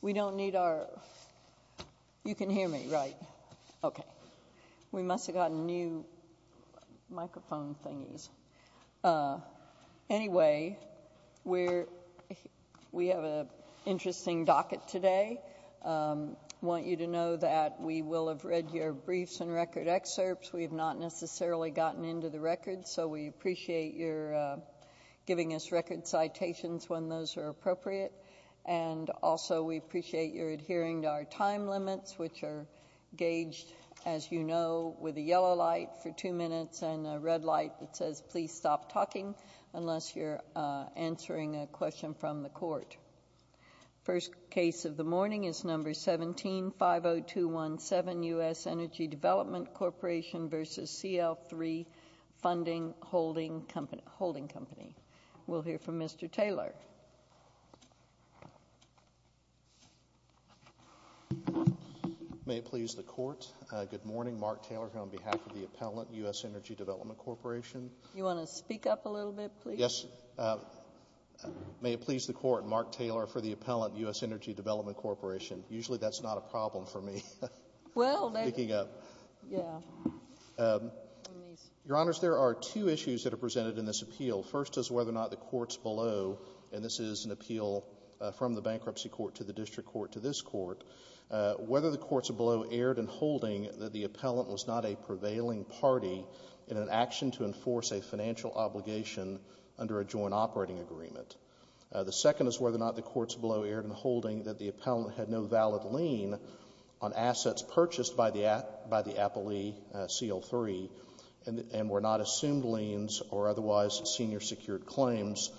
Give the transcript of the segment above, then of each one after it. We don't need our... You can hear me, right? Okay. We must have gotten new microphone thingies. Anyway, we have an interesting docket today. I want you to know that we will have read your briefs and record excerpts. We have not necessarily gotten into the records, so we appreciate your giving us record citations when those are appropriate and also we appreciate your adhering to our time limits, which are gauged, as you know, with a yellow light for two minutes and a red light that says, please stop talking unless you're answering a question from the court. First case of the morning is number 17, 50217, U.S. Energy Development Corporation v. CL III Funding Holding Company. We'll hear from Mr. Taylor. May it please the Court. Good morning. Mark Taylor here on behalf of the appellant, U.S. Energy Development Corporation. You want to speak up a little bit, please? Yes. May it please the Court. Mark Taylor for the appellant, U.S. Energy Development Corporation. Usually that's not a problem for me, speaking up. Your Honors, there are two issues that are presented in this appeal. First is whether or not the courts below, and this is an appeal from the bankruptcy court to the district court to this court, whether the courts below erred in holding that the appellant was not a prevailing party in an action to enforce a financial obligation under a joint operating agreement. The second is whether or not the courts below erred in holding that the appellant had no valid lien on assets purchased by the appellee, CL III, and were not assumed liens or otherwise senior secured claims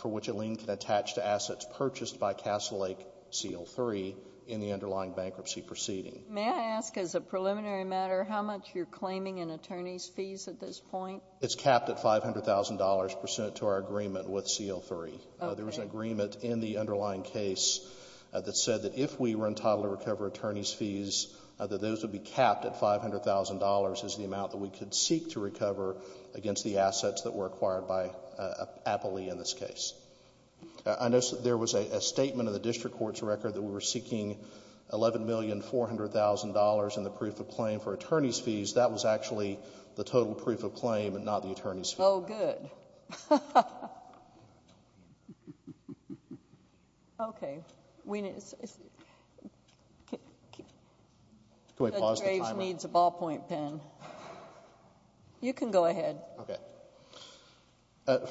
for which a lien can attach to assets purchased by Castle Lake, CL III, in the underlying bankruptcy proceeding. May I ask, as a preliminary matter, how much you're claiming in attorney's fees at this point? It's capped at $500,000 percent to our agreement with CL III. There was an agreement in the underlying case that said that if we were entitled to recover attorney's fees, that those would be capped at $500,000 as the amount that we could seek to recover against the assets that were acquired by an appellee in this case. I noticed that there was a statement in the district court's record that we were seeking $11,400,000 in the proof of claim for attorney's fees. That was actually the total proof of claim and not the attorney's fees. Oh, good. Okay. Judge Graves needs a ballpoint pen. You can go ahead. Okay.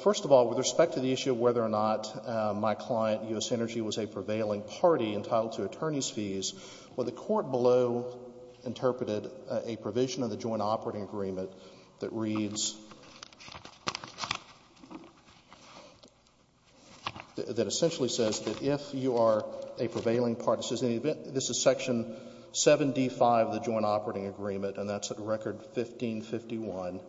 First of all, with respect to the issue of whether or not my client, U.S. Energy, was a prevailing party entitled to attorney's fees, well, the court below interpreted a provision of the joint operating agreement that reads that essentially says that if you are a prevailing party, this is Section 7d.5 of the joint operating agreement, and that's at Record 1551,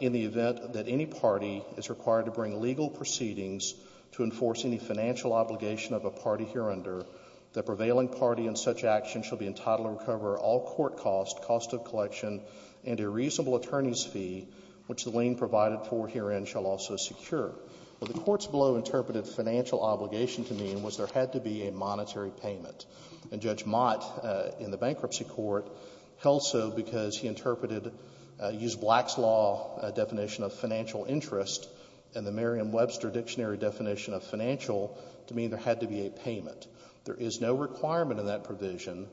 in the event that any party is required to bring legal proceedings to enforce any financial obligation of a party hereunder, the prevailing party in such action shall be entitled to recover all court costs, cost of collection, and a reasonable attorney's fee, which the lien provided for herein shall also secure. Well, the courts below interpreted financial obligation to mean was there had to be a monetary payment. And Judge Mott in the bankruptcy court held so because he interpreted, used Black's law definition of financial interest and the Merriam-Webster dictionary definition of financial to mean there had to be a payment. There is no requirement in that provision,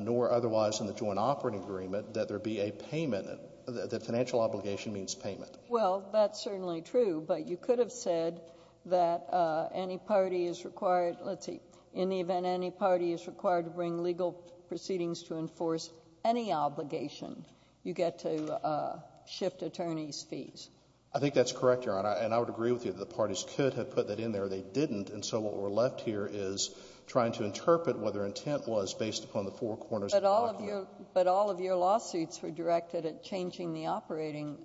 nor otherwise in the joint operating agreement, that there be a payment, that financial obligation means payment. Well, that's certainly true. But you could have said that any party is required, let's see, in the event any party is required to bring legal proceedings to enforce any obligation, you get to shift attorney's fees. I think that's correct, Your Honor. And I would agree with you that the parties could have put that in there. They didn't. And so what we're left here is trying to interpret what their intent was based upon the four corners of the document. But all of your lawsuits were directed at changing the operating,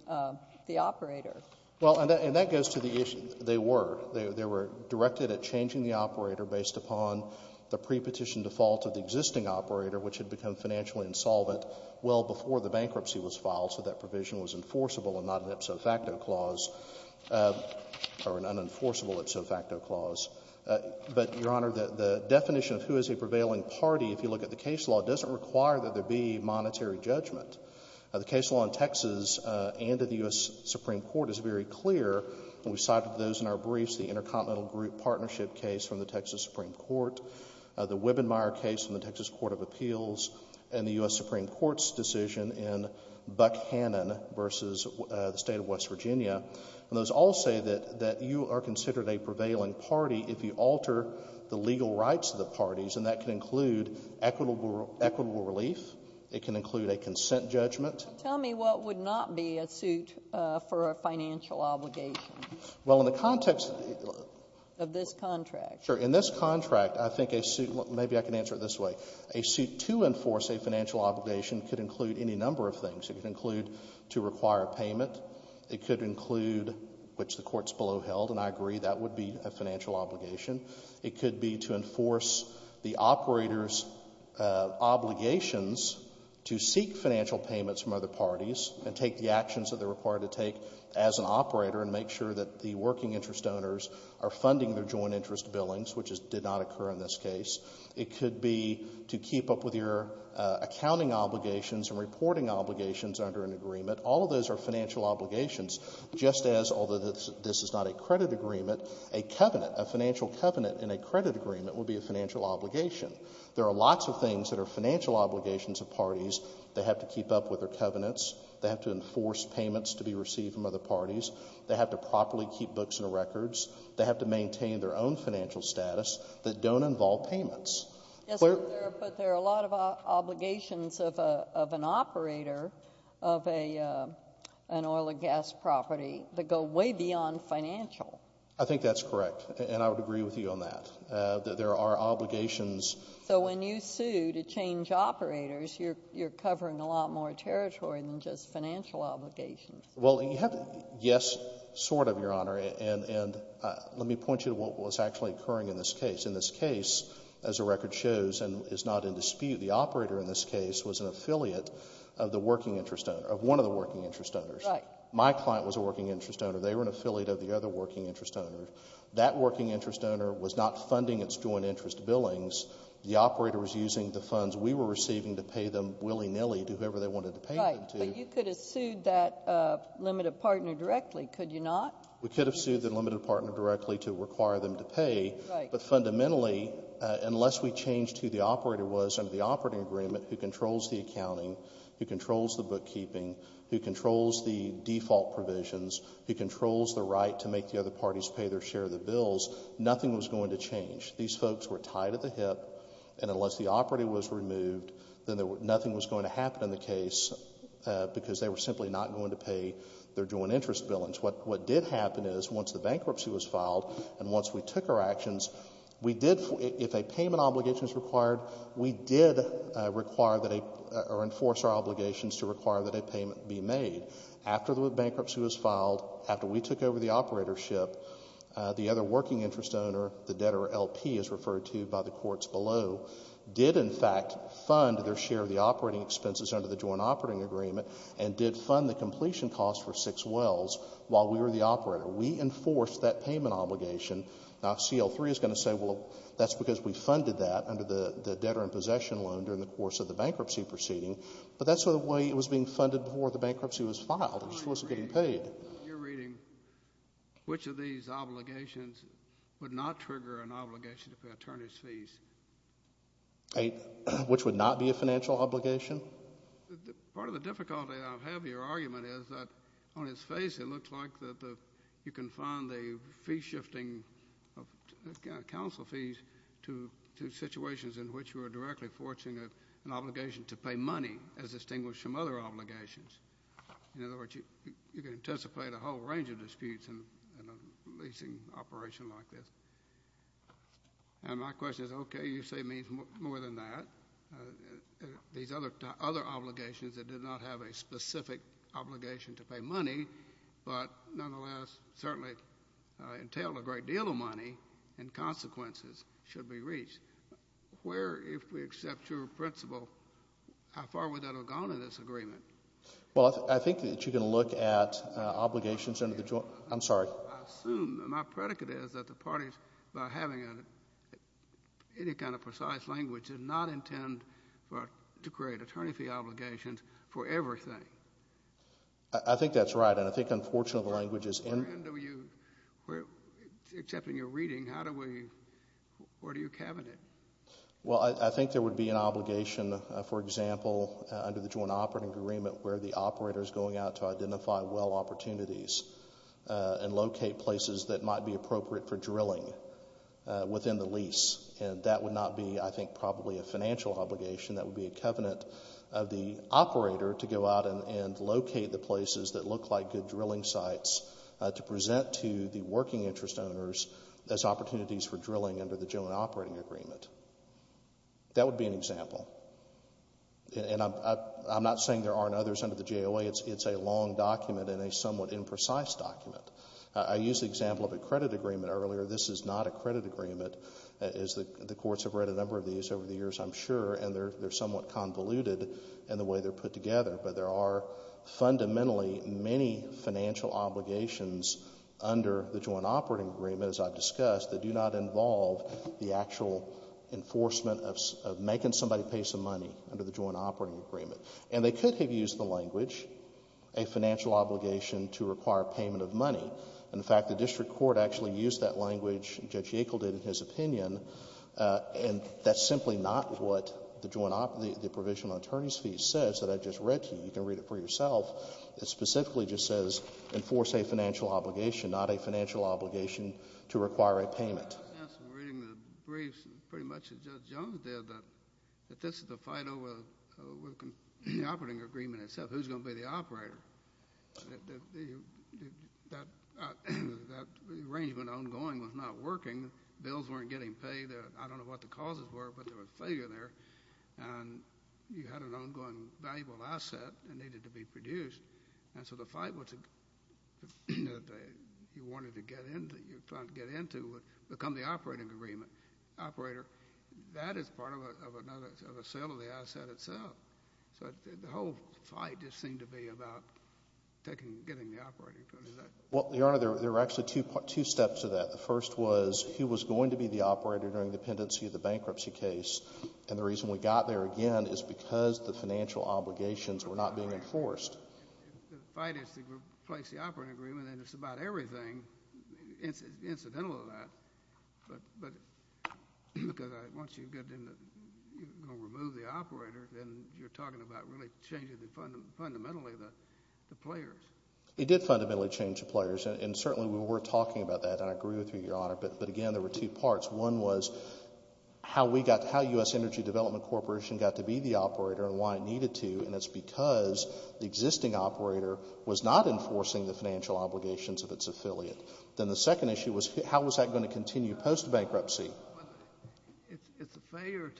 the operator. Well, and that goes to the issue. They were. They were directed at changing the operator based upon the prepetition default of the existing operator, which had become financially insolvent well before the bankruptcy was filed, so that provision was enforceable and not an ipso facto clause, or an unenforceable ipso facto clause. But, Your Honor, the definition of who is a prevailing party, if you look at the case law, doesn't require that there be monetary judgment. The case law in Texas and in the U.S. Supreme Court is very clear. And we cited those in our briefs, the Intercontinental Group Partnership case from the Texas Supreme Court, the Wibbenmeyer case from the Texas Court of Appeals, and the U.S. Supreme Court's decision in Buckhannon versus the State of West Virginia. And those all say that you are considered a prevailing party if you alter the legal rights of the parties, and that can include equitable relief. It can include a consent judgment. Tell me what would not be a suit for a financial obligation. Well, in the context of this contract. Sure. In this contract, I think a suit — maybe I can answer it this way. A suit to enforce a financial obligation could include any number of things. It could include to require payment. It could include, which the courts below held, and I agree that would be a financial obligation. It could be to enforce the operator's obligations to seek financial payments from other parties and take the actions that they're required to take as an operator and make sure that the working interest owners are funding their joint interest billings, which did not occur in this case. It could be to keep up with your accounting obligations and reporting obligations under an agreement. All of those are financial obligations, just as, although this is not a credit agreement, a covenant, a financial covenant in a credit agreement would be a financial obligation. There are lots of things that are financial obligations of parties that have to keep up with their covenants, that have to enforce payments to be received from other parties, that have to properly keep books and records, that have to maintain their own financial status, that don't involve payments. Yes, but there are a lot of obligations of an operator of an oil and gas property that go way beyond financial. I think that's correct, and I would agree with you on that. There are obligations. So when you sue to change operators, you're covering a lot more territory than just financial obligations. Well, you have to, yes, sort of, Your Honor, and let me point you to what was actually occurring in this case. In this case, as the record shows and is not in dispute, the operator in this case was an affiliate of the working interest owner, of one of the working interest owners. Right. My client was a working interest owner. They were an affiliate of the other working interest owner. That working interest owner was not funding its joint interest billings. The operator was using the funds we were receiving to pay them willy-nilly to whoever they wanted to pay them to. But you could have sued that limited partner directly, could you not? We could have sued the limited partner directly to require them to pay. Right. But fundamentally, unless we changed who the operator was under the operating agreement, who controls the accounting, who controls the bookkeeping, who controls the default provisions, who controls the right to make the other parties pay their share of the bills, nothing was going to change. These folks were tied at the hip, and unless the operator was removed, then nothing was going to happen in the case because they were simply not going to pay their joint interest billings. What did happen is once the bankruptcy was filed and once we took our actions, we did, if a payment obligation is required, we did require that a, or enforce our obligations to require that a payment be made. After the bankruptcy was filed, after we took over the operatorship, the other working interest owner, the debtor LP as referred to by the courts below, did in their share of the operating expenses under the joint operating agreement and did fund the completion cost for six wells while we were the operator. We enforced that payment obligation. Now, if CL-3 is going to say, well, that's because we funded that under the debtor in possession loan during the course of the bankruptcy proceeding, but that's the way it was being funded before the bankruptcy was filed. It just wasn't getting paid. In your reading, which of these obligations would not trigger an obligation to pay attorney's fees? Which would not be a financial obligation? Part of the difficulty I have with your argument is that on its face it looks like you can fund the fee shifting of counsel fees to situations in which you are directly forcing an obligation to pay money as distinguished from other obligations. In other words, you can anticipate a whole range of disputes in a leasing operation like this. And my question is, okay, you say it means more than that. These other obligations that did not have a specific obligation to pay money, but nonetheless certainly entail a great deal of money and consequences, should be reached. Where, if we accept your principle, how far would that have gone in this agreement? Well, I think that you can look at obligations under the joint. I'm sorry. I assume, my predicate is that the parties, by having any kind of precise language, did not intend to create attorney fee obligations for everything. I think that's right. And I think, unfortunately, the language is in. Except in your reading, where do you cabinet? Well, I think there would be an obligation, for example, under the joint operating agreement where the operator is going out to identify well opportunities and locate places that might be appropriate for drilling within the lease. And that would not be, I think, probably a financial obligation. That would be a covenant of the operator to go out and locate the places that look like good drilling sites to present to the working interest owners as opportunities for drilling under the joint operating agreement. That would be an example. And I'm not saying there aren't others under the JOA. It's a long document and a somewhat imprecise document. I used the example of a credit agreement earlier. This is not a credit agreement. The courts have read a number of these over the years, I'm sure, and they're somewhat convoluted in the way they're put together. But there are fundamentally many financial obligations under the joint operating agreement, as I've discussed, that do not involve the actual enforcement of making somebody pay some money under the joint operating agreement. And they could have used the language, a financial obligation to require payment of money. In fact, the district court actually used that language, Judge Yackel did in his opinion, and that's simply not what the provision on attorney's fees says that I just read to you. You can read it for yourself. It specifically just says enforce a financial obligation, not a financial obligation to require a payment. Yes, and reading the briefs, pretty much as Judge Jones did, that this is the fight over the operating agreement itself, who's going to be the operator. That arrangement ongoing was not working. Bills weren't getting paid. I don't know what the causes were, but there was failure there. And you had an ongoing valuable asset that needed to be produced. And so the fight that you wanted to get into, that you were trying to get into, would become the operating agreement. Operator, that is part of a sale of the asset itself. So the whole fight just seemed to be about getting the operator. Well, Your Honor, there were actually two steps to that. The first was who was going to be the operator during the pendency of the bankruptcy case. And the reason we got there again is because the financial obligations were not being enforced. The fight is to replace the operating agreement, and it's about everything. It's incidental to that. But once you're going to remove the operator, then you're talking about really changing fundamentally the players. It did fundamentally change the players. And certainly we were talking about that, and I agree with you, Your Honor. But again, there were two parts. One was how U.S. Energy Development Corporation got to be the operator and why it needed to. And it's because the existing operator was not enforcing the financial obligations of its affiliate. Then the second issue was how was that going to continue post-bankruptcy. It's a failure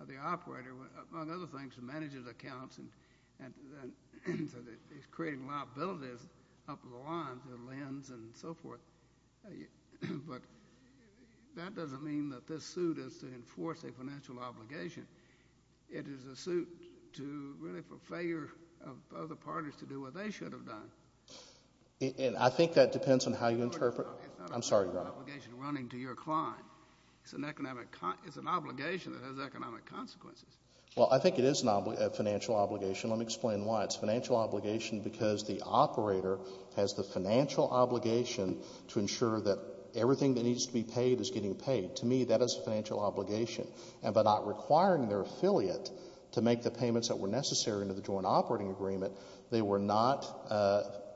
of the operator, among other things, to manage his accounts and he's creating liabilities up the lines and lends and so forth. But that doesn't mean that this suit is to enforce a financial obligation. It is a suit really for failure of other parties to do what they should have done. And I think that depends on how you interpret it. I'm sorry, Your Honor. It's not a financial obligation running to your client. It's an obligation that has economic consequences. Well, I think it is a financial obligation. Let me explain why. It's a financial obligation because the operator has the financial obligation to ensure that everything that needs to be paid is getting paid. To me, that is a financial obligation. And by not requiring their affiliate to make the payments that were necessary under the joint operating agreement, they were not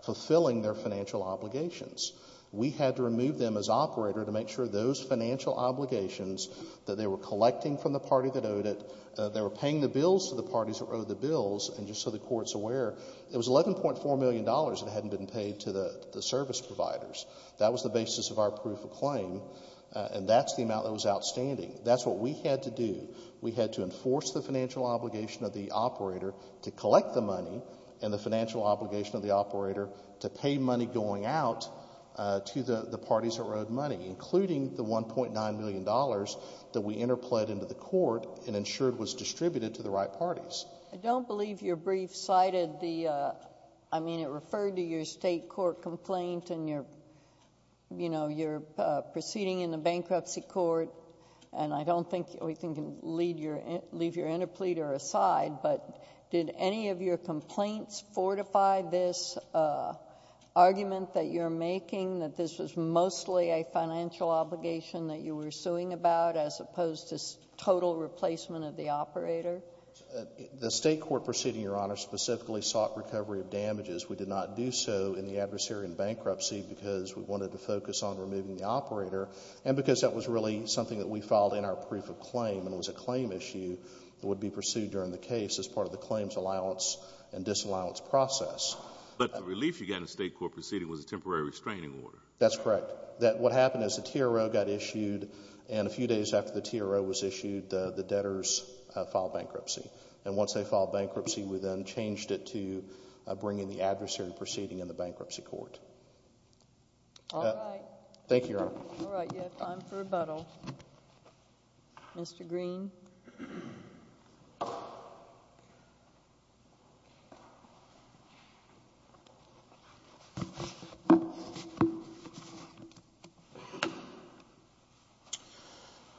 fulfilling their financial obligations. We had to remove them as operator to make sure those financial obligations that they were collecting from the party that owed it, they were paying the bills to the parties that owed the bills, and just so the Court's aware, it was $11.4 million that hadn't been paid to the service providers. That was the basis of our proof of claim, and that's the amount that was outstanding. That's what we had to do. We had to enforce the financial obligation of the operator to collect the money and the financial obligation of the operator to pay money going out to the parties that owed money, including the $1.9 million that we interpled into the Court and ensured was distributed to the right parties. I don't believe your brief cited the, I mean, it referred to your state court complaint and your proceeding in the bankruptcy court, and I don't think we can leave your interpleader aside, but did any of your complaints fortify this argument that you're making that this was mostly a financial obligation that you were suing about as opposed to total replacement of the operator? The state court proceeding, Your Honor, specifically sought recovery of damages. We did not do so in the adversary in bankruptcy because we wanted to focus on removing the operator and because that was really something that we filed in our proof of claim and it was a claim issue that would be pursued during the case as part of the claims allowance and disallowance process. But the relief you got in the state court proceeding was a temporary restraining order. That's correct. What happened is the TRO got issued, and a few days after the TRO was issued, the debtors filed bankruptcy. And once they filed bankruptcy, we then changed it to bringing the adversary proceeding in the bankruptcy court. All right. Thank you, Your Honor. All right. You have time for rebuttal. Mr. Green.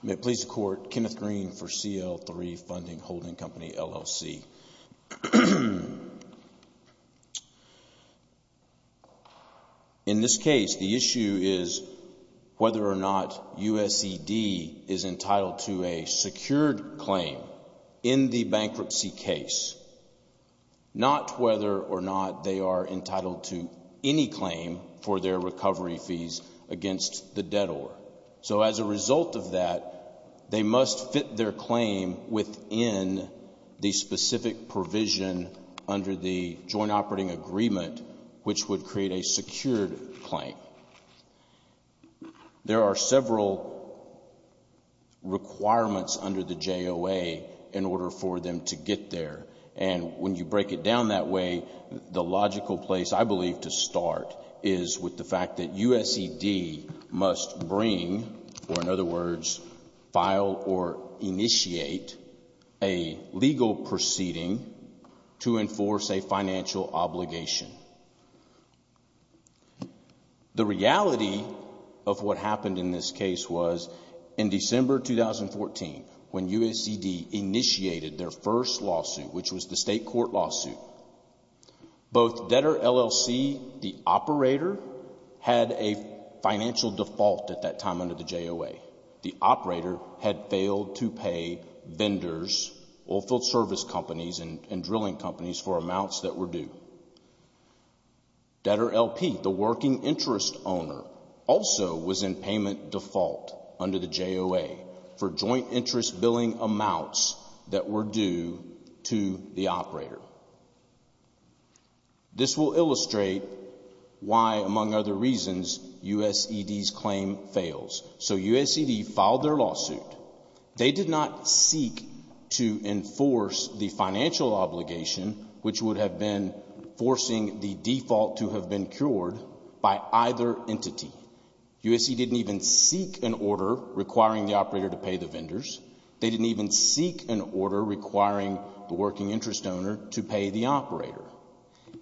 May it please the Court. Kenneth Green for CL3 Funding Holding Company, LLC. In this case, the issue is whether or not USED is entitled to a secured claim in the bankruptcy case, not whether or not they are entitled to any claim for their recovery fees against the debtor. So as a result of that, they must fit their claim within the specific provision under the joint operating agreement, which would create a secured claim. There are several requirements under the JOA in order for them to get there. And when you break it down that way, the logical place, I believe, to start is with the fact that USED must bring, or in other words, file or initiate a legal proceeding to enforce a financial obligation. The reality of what happened in this case was in December 2014, when USED initiated their first lawsuit, which was the state court lawsuit. Both Debtor LLC, the operator, had a financial default at that time under the JOA. The operator had failed to pay vendors, oilfield service companies, and drilling companies for amounts that were due. Debtor LP, the working interest owner, also was in payment default under the JOA for joint interest billing amounts that were due to the operator. This will illustrate why, among other reasons, USED's claim fails. So USED filed their lawsuit. They did not seek to enforce the financial obligation, which would have been forcing the default to have been cured, by either entity. USED didn't even seek an order requiring the operator to pay the vendors. They didn't even seek an order requiring the working interest owner to pay the operator.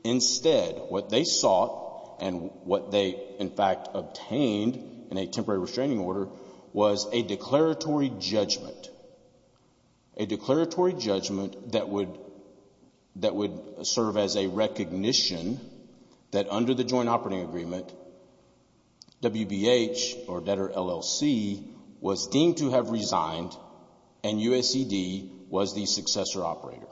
Instead, what they sought and what they in fact obtained in a temporary restraining order was a declaratory judgment, a declaratory judgment that would serve as a recognition that under the joint operating agreement, WBH, or Debtor LLC, was deemed to have resigned and USED was the successor operator.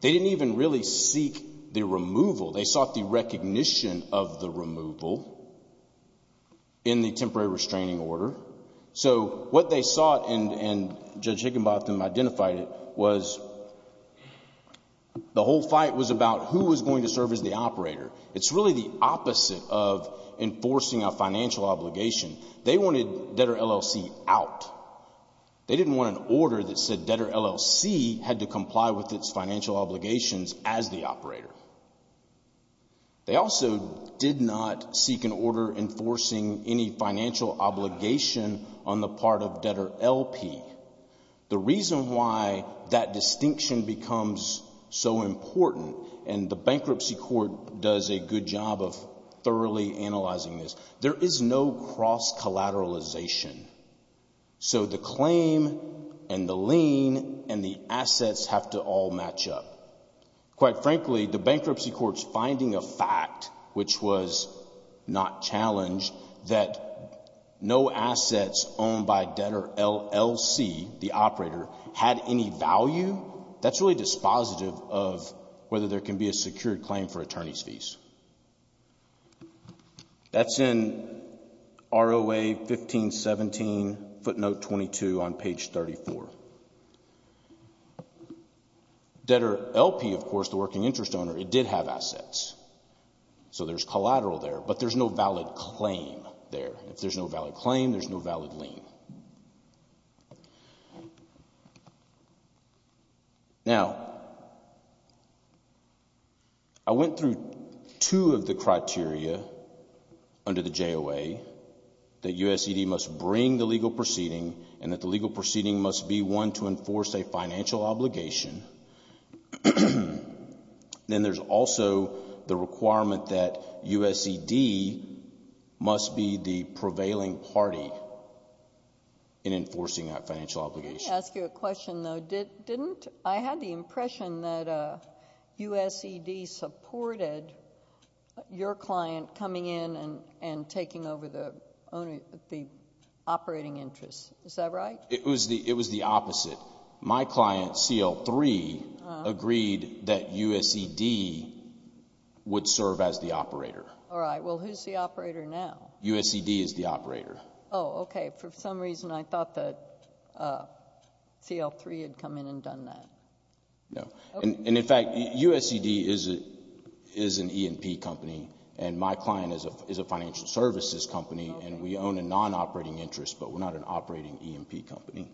They didn't even really seek the removal. They sought the recognition of the removal in the temporary restraining order. So what they sought, and Judge Higginbotham identified it, was the whole fight was about who was going to serve as the operator. It's really the opposite of enforcing a financial obligation. They wanted Debtor LLC out. They didn't want an order that said Debtor LLC had to comply with its financial obligations as the operator. They also did not seek an order enforcing any financial obligation on the part of Debtor LP. The reason why that distinction becomes so important, and the bankruptcy court does a good job of thoroughly analyzing this, there is no cross-collateralization. So the claim and the lien and the assets have to all match up. Quite frankly, the bankruptcy court's finding a fact, which was not challenged, that no assets owned by Debtor LLC, the operator, had any value, that's really dispositive of whether there can be a secured claim for attorney's fees. That's in ROA 1517 footnote 22 on page 34. Debtor LP, of course, the working interest owner, it did have assets. So there's collateral there, but there's no valid claim there. If there's no valid claim, there's no valid lien. Now, I went through two of the criteria under the JOA, that USED must bring the legal proceeding and that the legal proceeding must be one to enforce a financial obligation. Then there's also the requirement that USED must be the prevailing party in enforcing that financial obligation. Let me ask you a question, though. Didn't I have the impression that USED supported your client coming in and taking over the operating interest? Is that right? It was the opposite. My client, CL3, agreed that USED would serve as the operator. All right. Well, who's the operator now? USED is the operator. Oh, okay. For some reason, I thought that CL3 had come in and done that. No. In fact, USED is an E&P company, and my client is a financial services company, and we own a non-operating interest, but we're not an operating E&P company.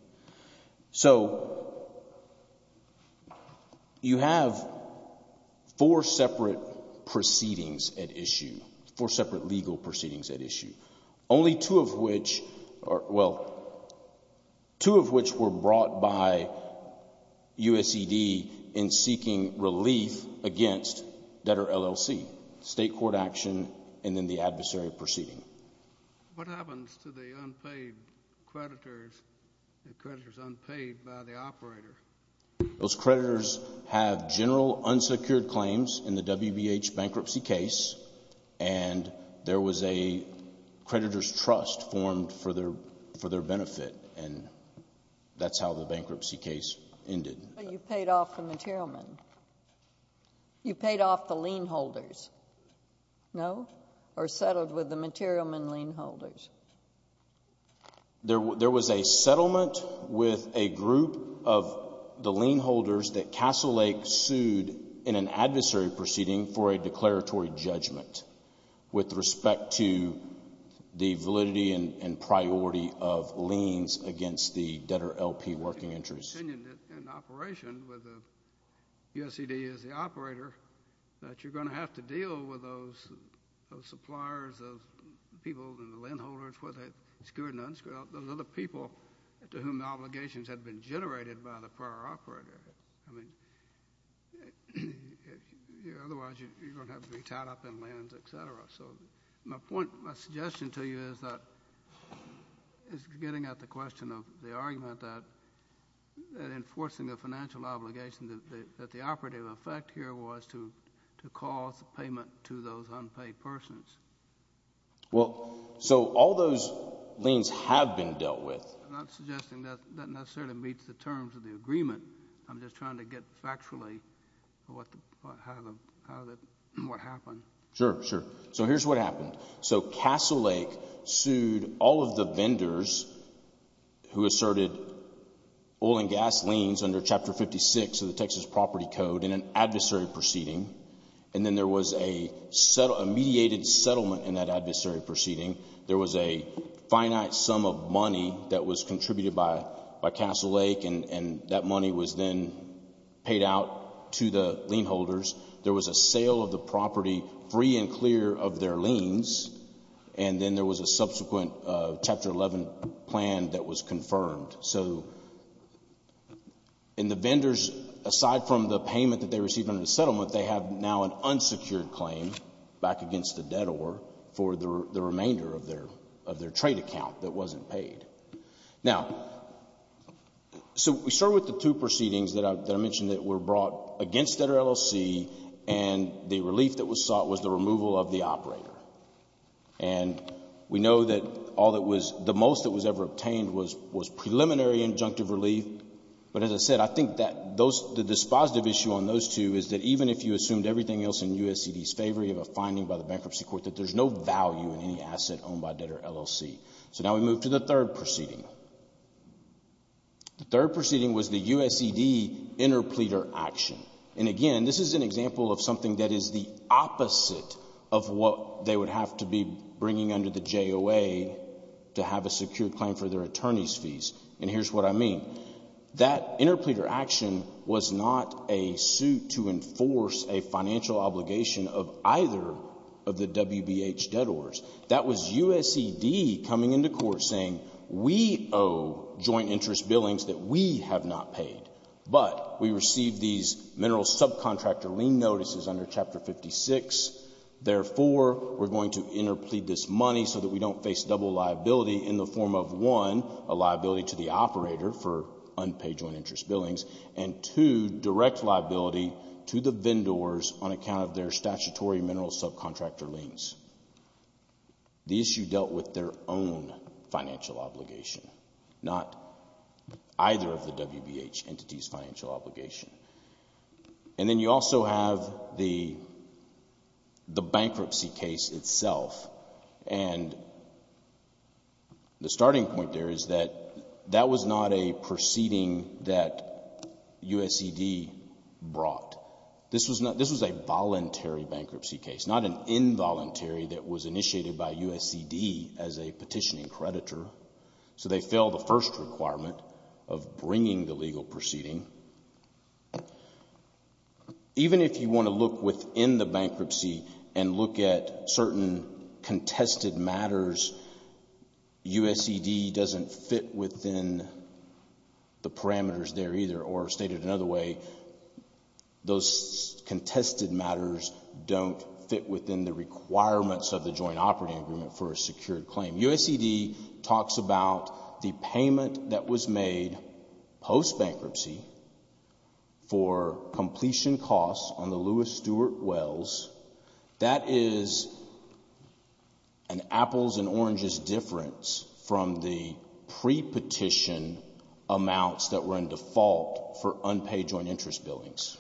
So you have four separate proceedings at issue, four separate legal proceedings at issue, only two of which were brought by USED in seeking relief against debtor LLC, state court action and then the adversary proceeding. What happens to the unpaid creditors, the creditors unpaid by the operator? Those creditors have general unsecured claims in the WBH bankruptcy case, and there was a creditor's trust formed for their benefit, and that's how the bankruptcy case ended. But you paid off the material men. You paid off the lien holders. No? Or settled with the material men lien holders? There was a settlement with a group of the lien holders that Castle Lake sued in an adversary proceeding for a declaratory judgment with respect to the validity and priority of liens against the debtor LP working interests. In operation with USED as the operator, you're going to have to deal with those suppliers, those people in the lien holders whether they're secured or not, those other people to whom the obligations had been generated by the prior operator. I mean, otherwise you're going to have to be tied up in liens, et cetera. So my point, my suggestion to you is getting at the question of the argument that enforcing a financial obligation, that the operative effect here was to cause payment to those unpaid persons. Well, so all those liens have been dealt with. I'm not suggesting that necessarily meets the terms of the agreement. I'm just trying to get factually what happened. Sure, sure. So here's what happened. So Castle Lake sued all of the vendors who asserted oil and gas liens under Chapter 56 of the Texas Property Code in an adversary proceeding, and then there was a mediated settlement in that adversary proceeding. There was a finite sum of money that was contributed by Castle Lake, and that money was then paid out to the lien holders. There was a sale of the property free and clear of their liens, and then there was a subsequent Chapter 11 plan that was confirmed. So the vendors, aside from the payment that they received under the settlement, they have now an unsecured claim back against the debtor for the remainder of their trade account that wasn't paid. Now, so we start with the two proceedings that I mentioned that were brought against debtor LLC, and the relief that was sought was the removal of the operator. And we know that all that was, the most that was ever obtained was preliminary injunctive relief. But as I said, I think that the dispositive issue on those two is that even if you assumed everything else in USED's favor, you have a finding by the bankruptcy court that there's no value in any asset owned by debtor LLC. So now we move to the third proceeding. The third proceeding was the USED interpleader action. And again, this is an example of something that is the opposite of what they would have to be bringing under the JOA to have a secured claim for their attorney's fees. And here's what I mean. That interpleader action was not a suit to enforce a financial obligation of either of the WBH debtors. That was USED coming into court saying, we owe joint interest billings that we have not paid, but we received these mineral subcontractor lien notices under Chapter 56. Therefore, we're going to interplead this money so that we don't face double liability in the form of, one, a liability to the operator for unpaid joint interest billings, and two, direct liability to the vendors on account of their statutory mineral subcontractor liens. The issue dealt with their own financial obligation, not either of the WBH entities' financial obligation. And then you also have the bankruptcy case itself. And the starting point there is that that was not a proceeding that USED brought. This was a voluntary bankruptcy case, not an involuntary that was initiated by USED as a petitioning creditor. So they failed the first requirement of bringing the legal proceeding. Even if you want to look within the bankruptcy and look at certain contested matters, USED doesn't fit within the parameters there either, or stated another way, those contested matters don't fit within the requirements of the joint operating agreement for a secured claim. USED talks about the payment that was made post-bankruptcy for completion costs on the Lewis Stewart Wells. That is an apples and oranges difference from the pre-petition amounts that were in default for unpaid joint interest billings.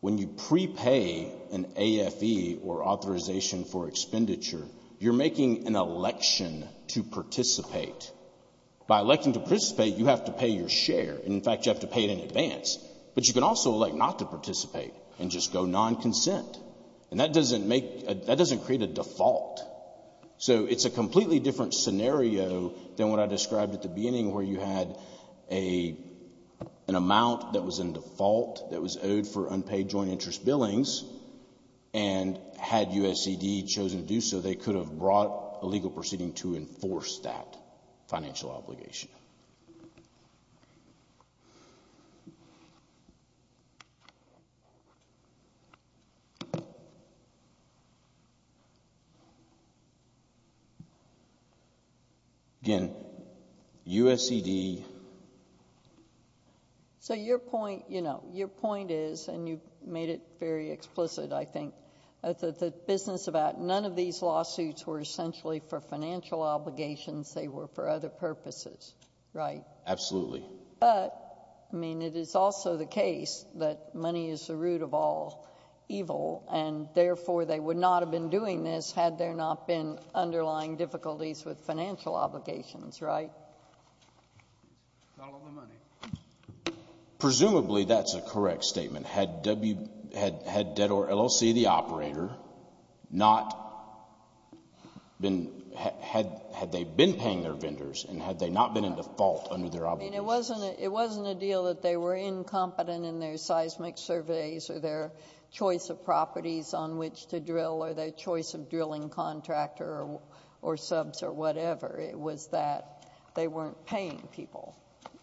When you prepay an AFE, or authorization for expenditure, you're making an election to participate. By electing to participate, you have to pay your share. In fact, you have to pay it in advance. But you can also elect not to participate and just go non-consent. And that doesn't create a default. So it's a completely different scenario than what I described at the beginning where you had an amount that was in default, that was owed for unpaid joint interest billings, and had USED chosen to do so, they could have brought a legal proceeding to enforce that financial obligation. Again, USED... So your point is, and you made it very explicit, I think, that none of these lawsuits were essentially for financial obligations. They were for other purposes, right? Absolutely. But, I mean, it is also the case that money is the root of all evil, and therefore they would not have been doing this had there not been underlying difficulties with financial obligations, right? Not a lot of money. Presumably that's a correct statement. Had DEDOR LLC, the operator, not been... Had they been paying their vendors and had they not been in default under their obligations? I mean, it wasn't a deal that they were incompetent in their seismic surveys or their choice of properties on which to drill or their choice of drilling contractor or subs or whatever. It was that they weren't paying people.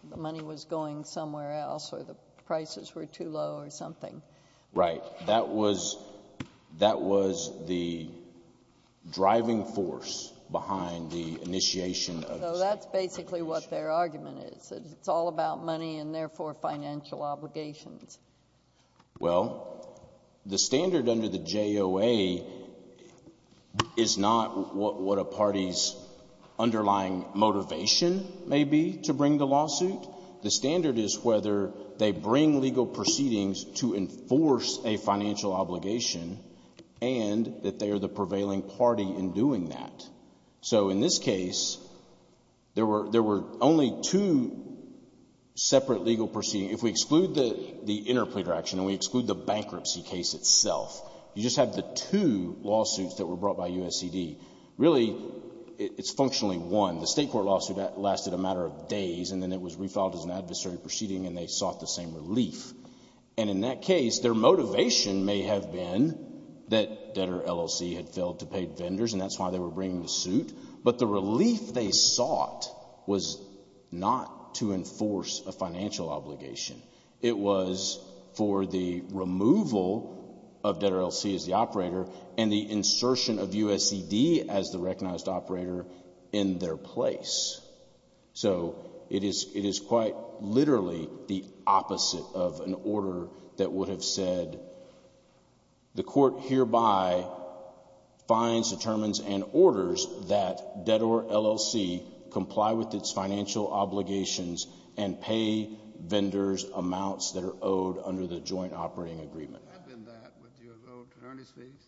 The money was going somewhere else or the prices were too low or something. Right. That was the driving force behind the initiation of... So that's basically what their argument is. It's all about money and, therefore, financial obligations. Well, the standard under the JOA is not what a party's underlying motivation may be to bring the lawsuit. The standard is whether they bring legal proceedings to enforce a financial obligation and that they are the prevailing party in doing that. So, in this case, there were only two separate legal proceedings. If we exclude the interpleader action and we exclude the bankruptcy case itself, you just have the two lawsuits that were brought by USED. Really, it's functionally one. The state court lawsuit lasted a matter of days and then it was refiled as an adversary proceeding and they sought the same relief. And in that case, their motivation may have been that DEDOR LLC had failed to pay vendors and that's why they were bringing the suit, but the relief they sought was not to enforce a financial obligation. It was for the removal of DEDOR LLC as the operator and the insertion of USED as the recognized operator in their place. So it is quite literally the opposite of an order that would have said, the court hereby finds, determines, and orders that DEDOR LLC comply with its financial obligations and pay vendors amounts that are owed under the joint operating agreement. If it had been that, would you have owed attorney's fees?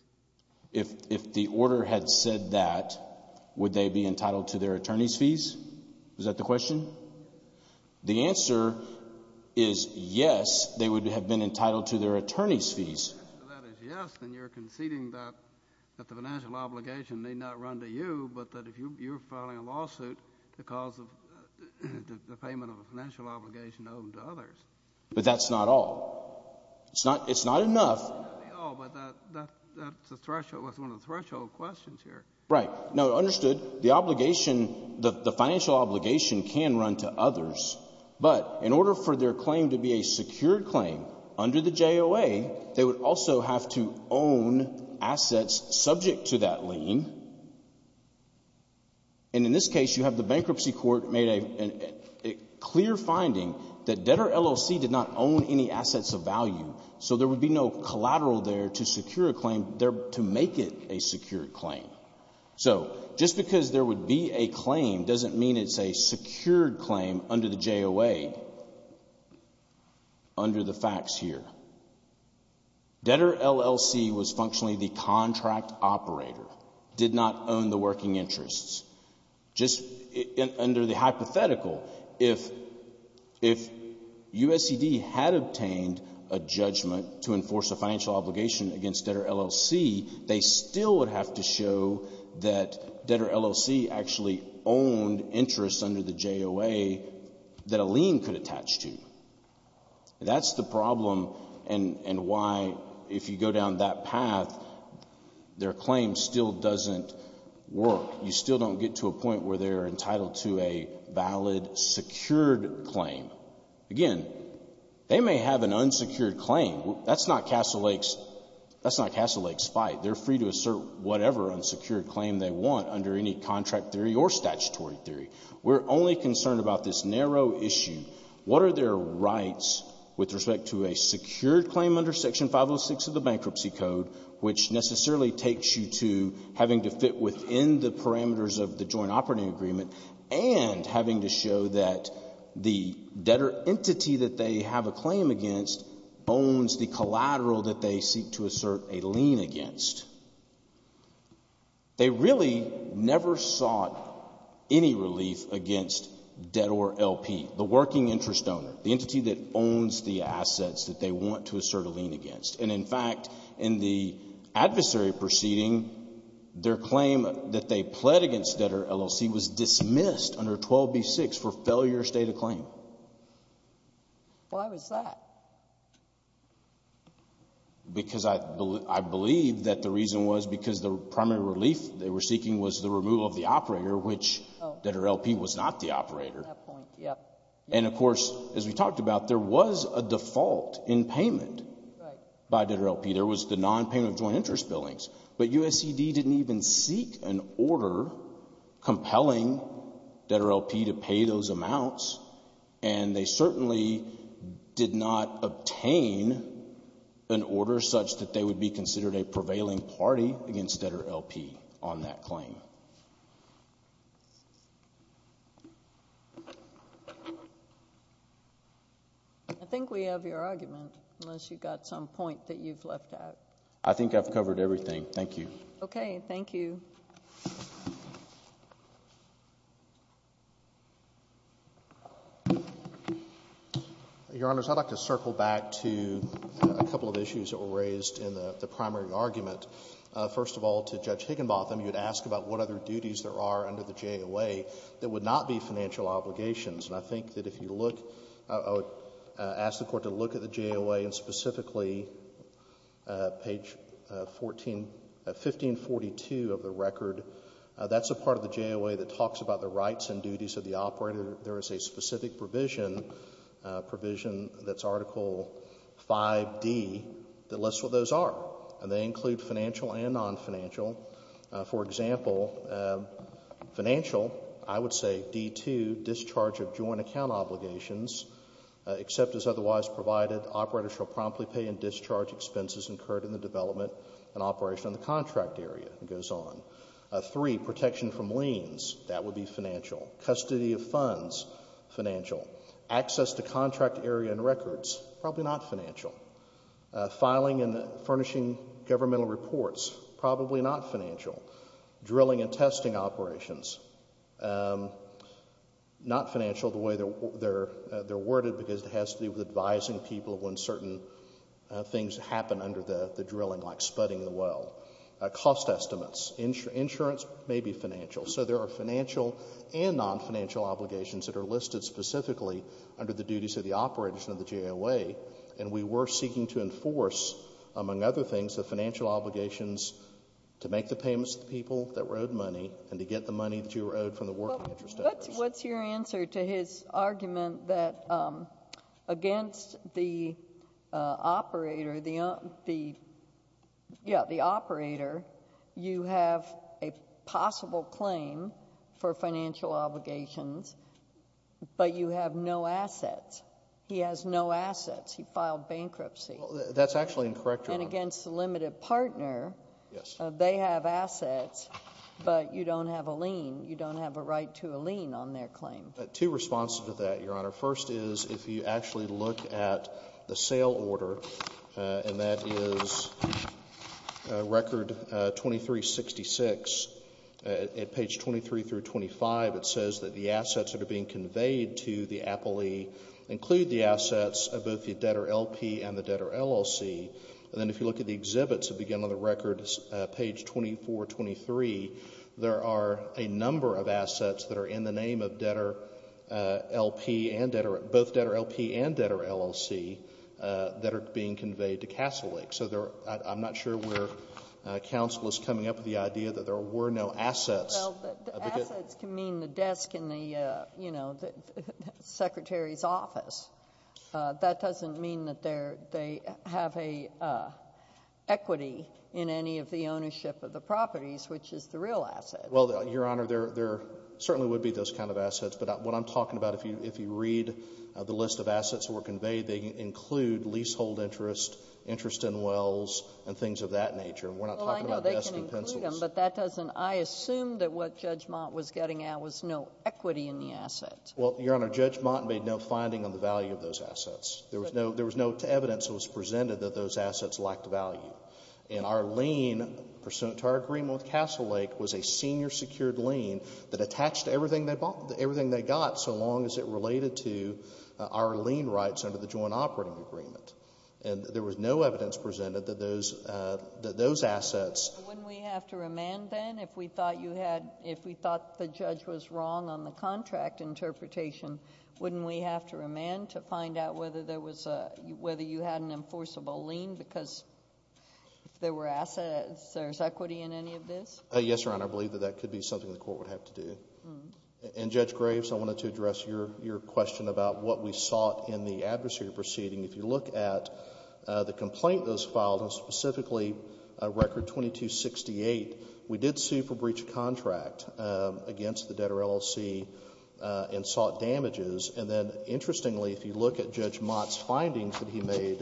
If the order had said that, would they be entitled to their attorney's fees? Is that the question? The answer is yes, they would have been entitled to their attorney's fees. If the answer to that is yes, then you're conceding that the financial obligation may not run to you, but that if you're filing a lawsuit, the payment of a financial obligation owed to others. But that's not all. It's not enough. It may not be all, but that's one of the threshold questions here. Right. Now, understood, the obligation, the financial obligation can run to others, but in order for their claim to be a secured claim under the JOA, they would also have to own assets subject to that lien. And in this case, you have the bankruptcy court made a clear finding that DEDOR LLC did not own any assets of value, so there would be no collateral there to secure a claim, to make it a secured claim. So just because there would be a claim doesn't mean it's a secured claim under the JOA, under the facts here. DEDOR LLC was functionally the contract operator, did not own the working interests. Just under the hypothetical, if USED had obtained a judgment to enforce a financial obligation against DEDOR LLC, they still would have to show that DEDOR LLC actually owned interests under the JOA that a lien could attach to. That's the problem and why, if you go down that path, their claim still doesn't work. You still don't get to a point where they're entitled to a valid secured claim. Again, they may have an unsecured claim. That's not Castle Lake's fight. They're free to assert whatever unsecured claim they want under any contract theory or statutory theory. We're only concerned about this narrow issue. What are their rights with respect to a secured claim under Section 506 of the Bankruptcy Code, which necessarily takes you to having to fit within the parameters of the joint operating agreement and having to show that the DEDOR entity that they have a claim against owns the collateral that they seek to assert a lien against. They really never sought any relief against DEDOR LP, the working interest owner, the entity that owns the assets that they want to assert a lien against. And, in fact, in the adversary proceeding, their claim that they pled against DEDOR LLC was dismissed under 12B-6 for failure of state of claim. Why was that? Because I believe that the reason was because the primary relief they were seeking was the removal of the operator, which DEDOR LP was not the operator. And, of course, as we talked about, there was a default in payment by DEDOR LP. There was the nonpayment of joint interest billings. But USED didn't even seek an order compelling DEDOR LP to pay those amounts, and they certainly did not obtain an order such that they would be considered a prevailing party against DEDOR LP on that claim. I think we have your argument, unless you've got some point that you've left out. I think I've covered everything. Thank you. Okay. Thank you. Your Honors, I'd like to circle back to a couple of issues that were raised in the primary argument. First of all, to Judge Higginbotham, you had asked about what other duties there are under the JOA that would not be financial obligations. And I think that if you look, I would ask the Court to look at the JOA and specifically page 1542 of the record. That's a part of the JOA that talks about the rights and duties of the operator. There is a specific provision, provision that's Article 5d, that lists what those are, and they include financial and nonfinancial. For example, financial, I would say D2, discharge of joint account obligations, except as otherwise provided, operator shall promptly pay in discharge expenses incurred in the development and operation of the contract area. It goes on. Three, protection from liens. That would be financial. Custody of funds, financial. Access to contract area and records, probably not financial. Filing and furnishing governmental reports, probably not financial. Drilling and testing operations, not financial, the way they're worded because it has to do with advising people when certain things happen under the drilling, like sputting the well. Cost estimates. Insurance may be financial. So there are financial and nonfinancial obligations that are listed specifically under the duties of the operation of the JOA. And we were seeking to enforce, among other things, the financial obligations to make the payments to the people that were owed money and to get the money that you were owed from the working interest. What's your answer to his argument that against the operator, the operator, you have a possible claim for financial obligations, but you have no assets? He has no assets. He filed bankruptcy. That's actually incorrect, Your Honor. And against the limited partner, they have assets, but you don't have a lien. You don't have a right to a lien on their claim. Two responses to that, Your Honor. First is if you actually look at the sale order, and that is record 2366. At page 23 through 25, it says that the assets that are being conveyed to the appellee include the assets of both the debtor LP and the debtor LLC. And then if you look at the exhibits that begin on the record, page 2423, there are a number of assets that are in the name of debtor LP and debtor, both debtor LP and debtor LLC, that are being conveyed to Castle Lake. So I'm not sure where counsel is coming up with the idea that there were no assets. Well, the assets can mean the desk in the secretary's office. That doesn't mean that they have an equity in any of the ownership of the properties, which is the real asset. Well, Your Honor, there certainly would be those kind of assets. But what I'm talking about, if you read the list of assets that were conveyed, they include leasehold interest, interest in wells, and things of that nature. And we're not talking about desk and pencils. Well, I know they can include them, but that doesn't – I assume that what Judge Mott was getting at was no equity in the asset. Well, Your Honor, Judge Mott made no finding on the value of those assets. There was no evidence that was presented that those assets lacked value. And our lien pursuant to our agreement with Castle Lake was a senior-secured lien that attached to everything they got so long as it related to our lien rights under the joint operating agreement. And there was no evidence presented that those assets – Wouldn't we have to remand then if we thought you had – if we thought the judge was wrong on the contract interpretation, wouldn't we have to remand to find out whether you had an enforceable lien because if there were assets, there's equity in any of this? Yes, Your Honor. I believe that that could be something the court would have to do. And Judge Graves, I wanted to address your question about what we sought in the adversary proceeding. If you look at the complaint that was filed, and specifically Record 2268, we did sue for breach of contract against the debtor LLC and sought damages. And then, interestingly, if you look at Judge Mott's findings that he made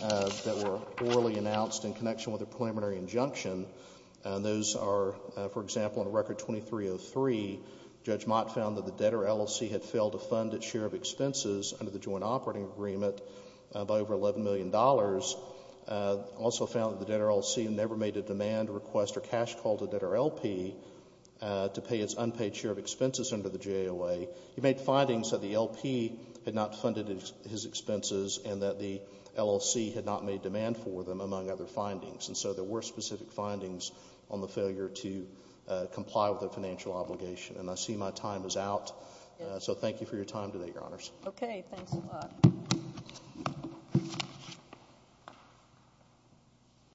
that were orally announced in connection with a preliminary injunction, those are, for example, in Record 2303, Judge Mott found that the debtor LLC had failed to fund its share of expenses under the joint operating agreement by over $11 million. Also found that the debtor LLC never made a demand request or cash call to the debtor LP to pay its unpaid share of expenses under the JOA. He made findings that the LP had not funded his expenses and that the LLC had not made demand for them, among other findings. And so there were specific findings on the failure to comply with a financial obligation. And I see my time is out. So thank you for your time today, Your Honors. Okay. Thanks a lot.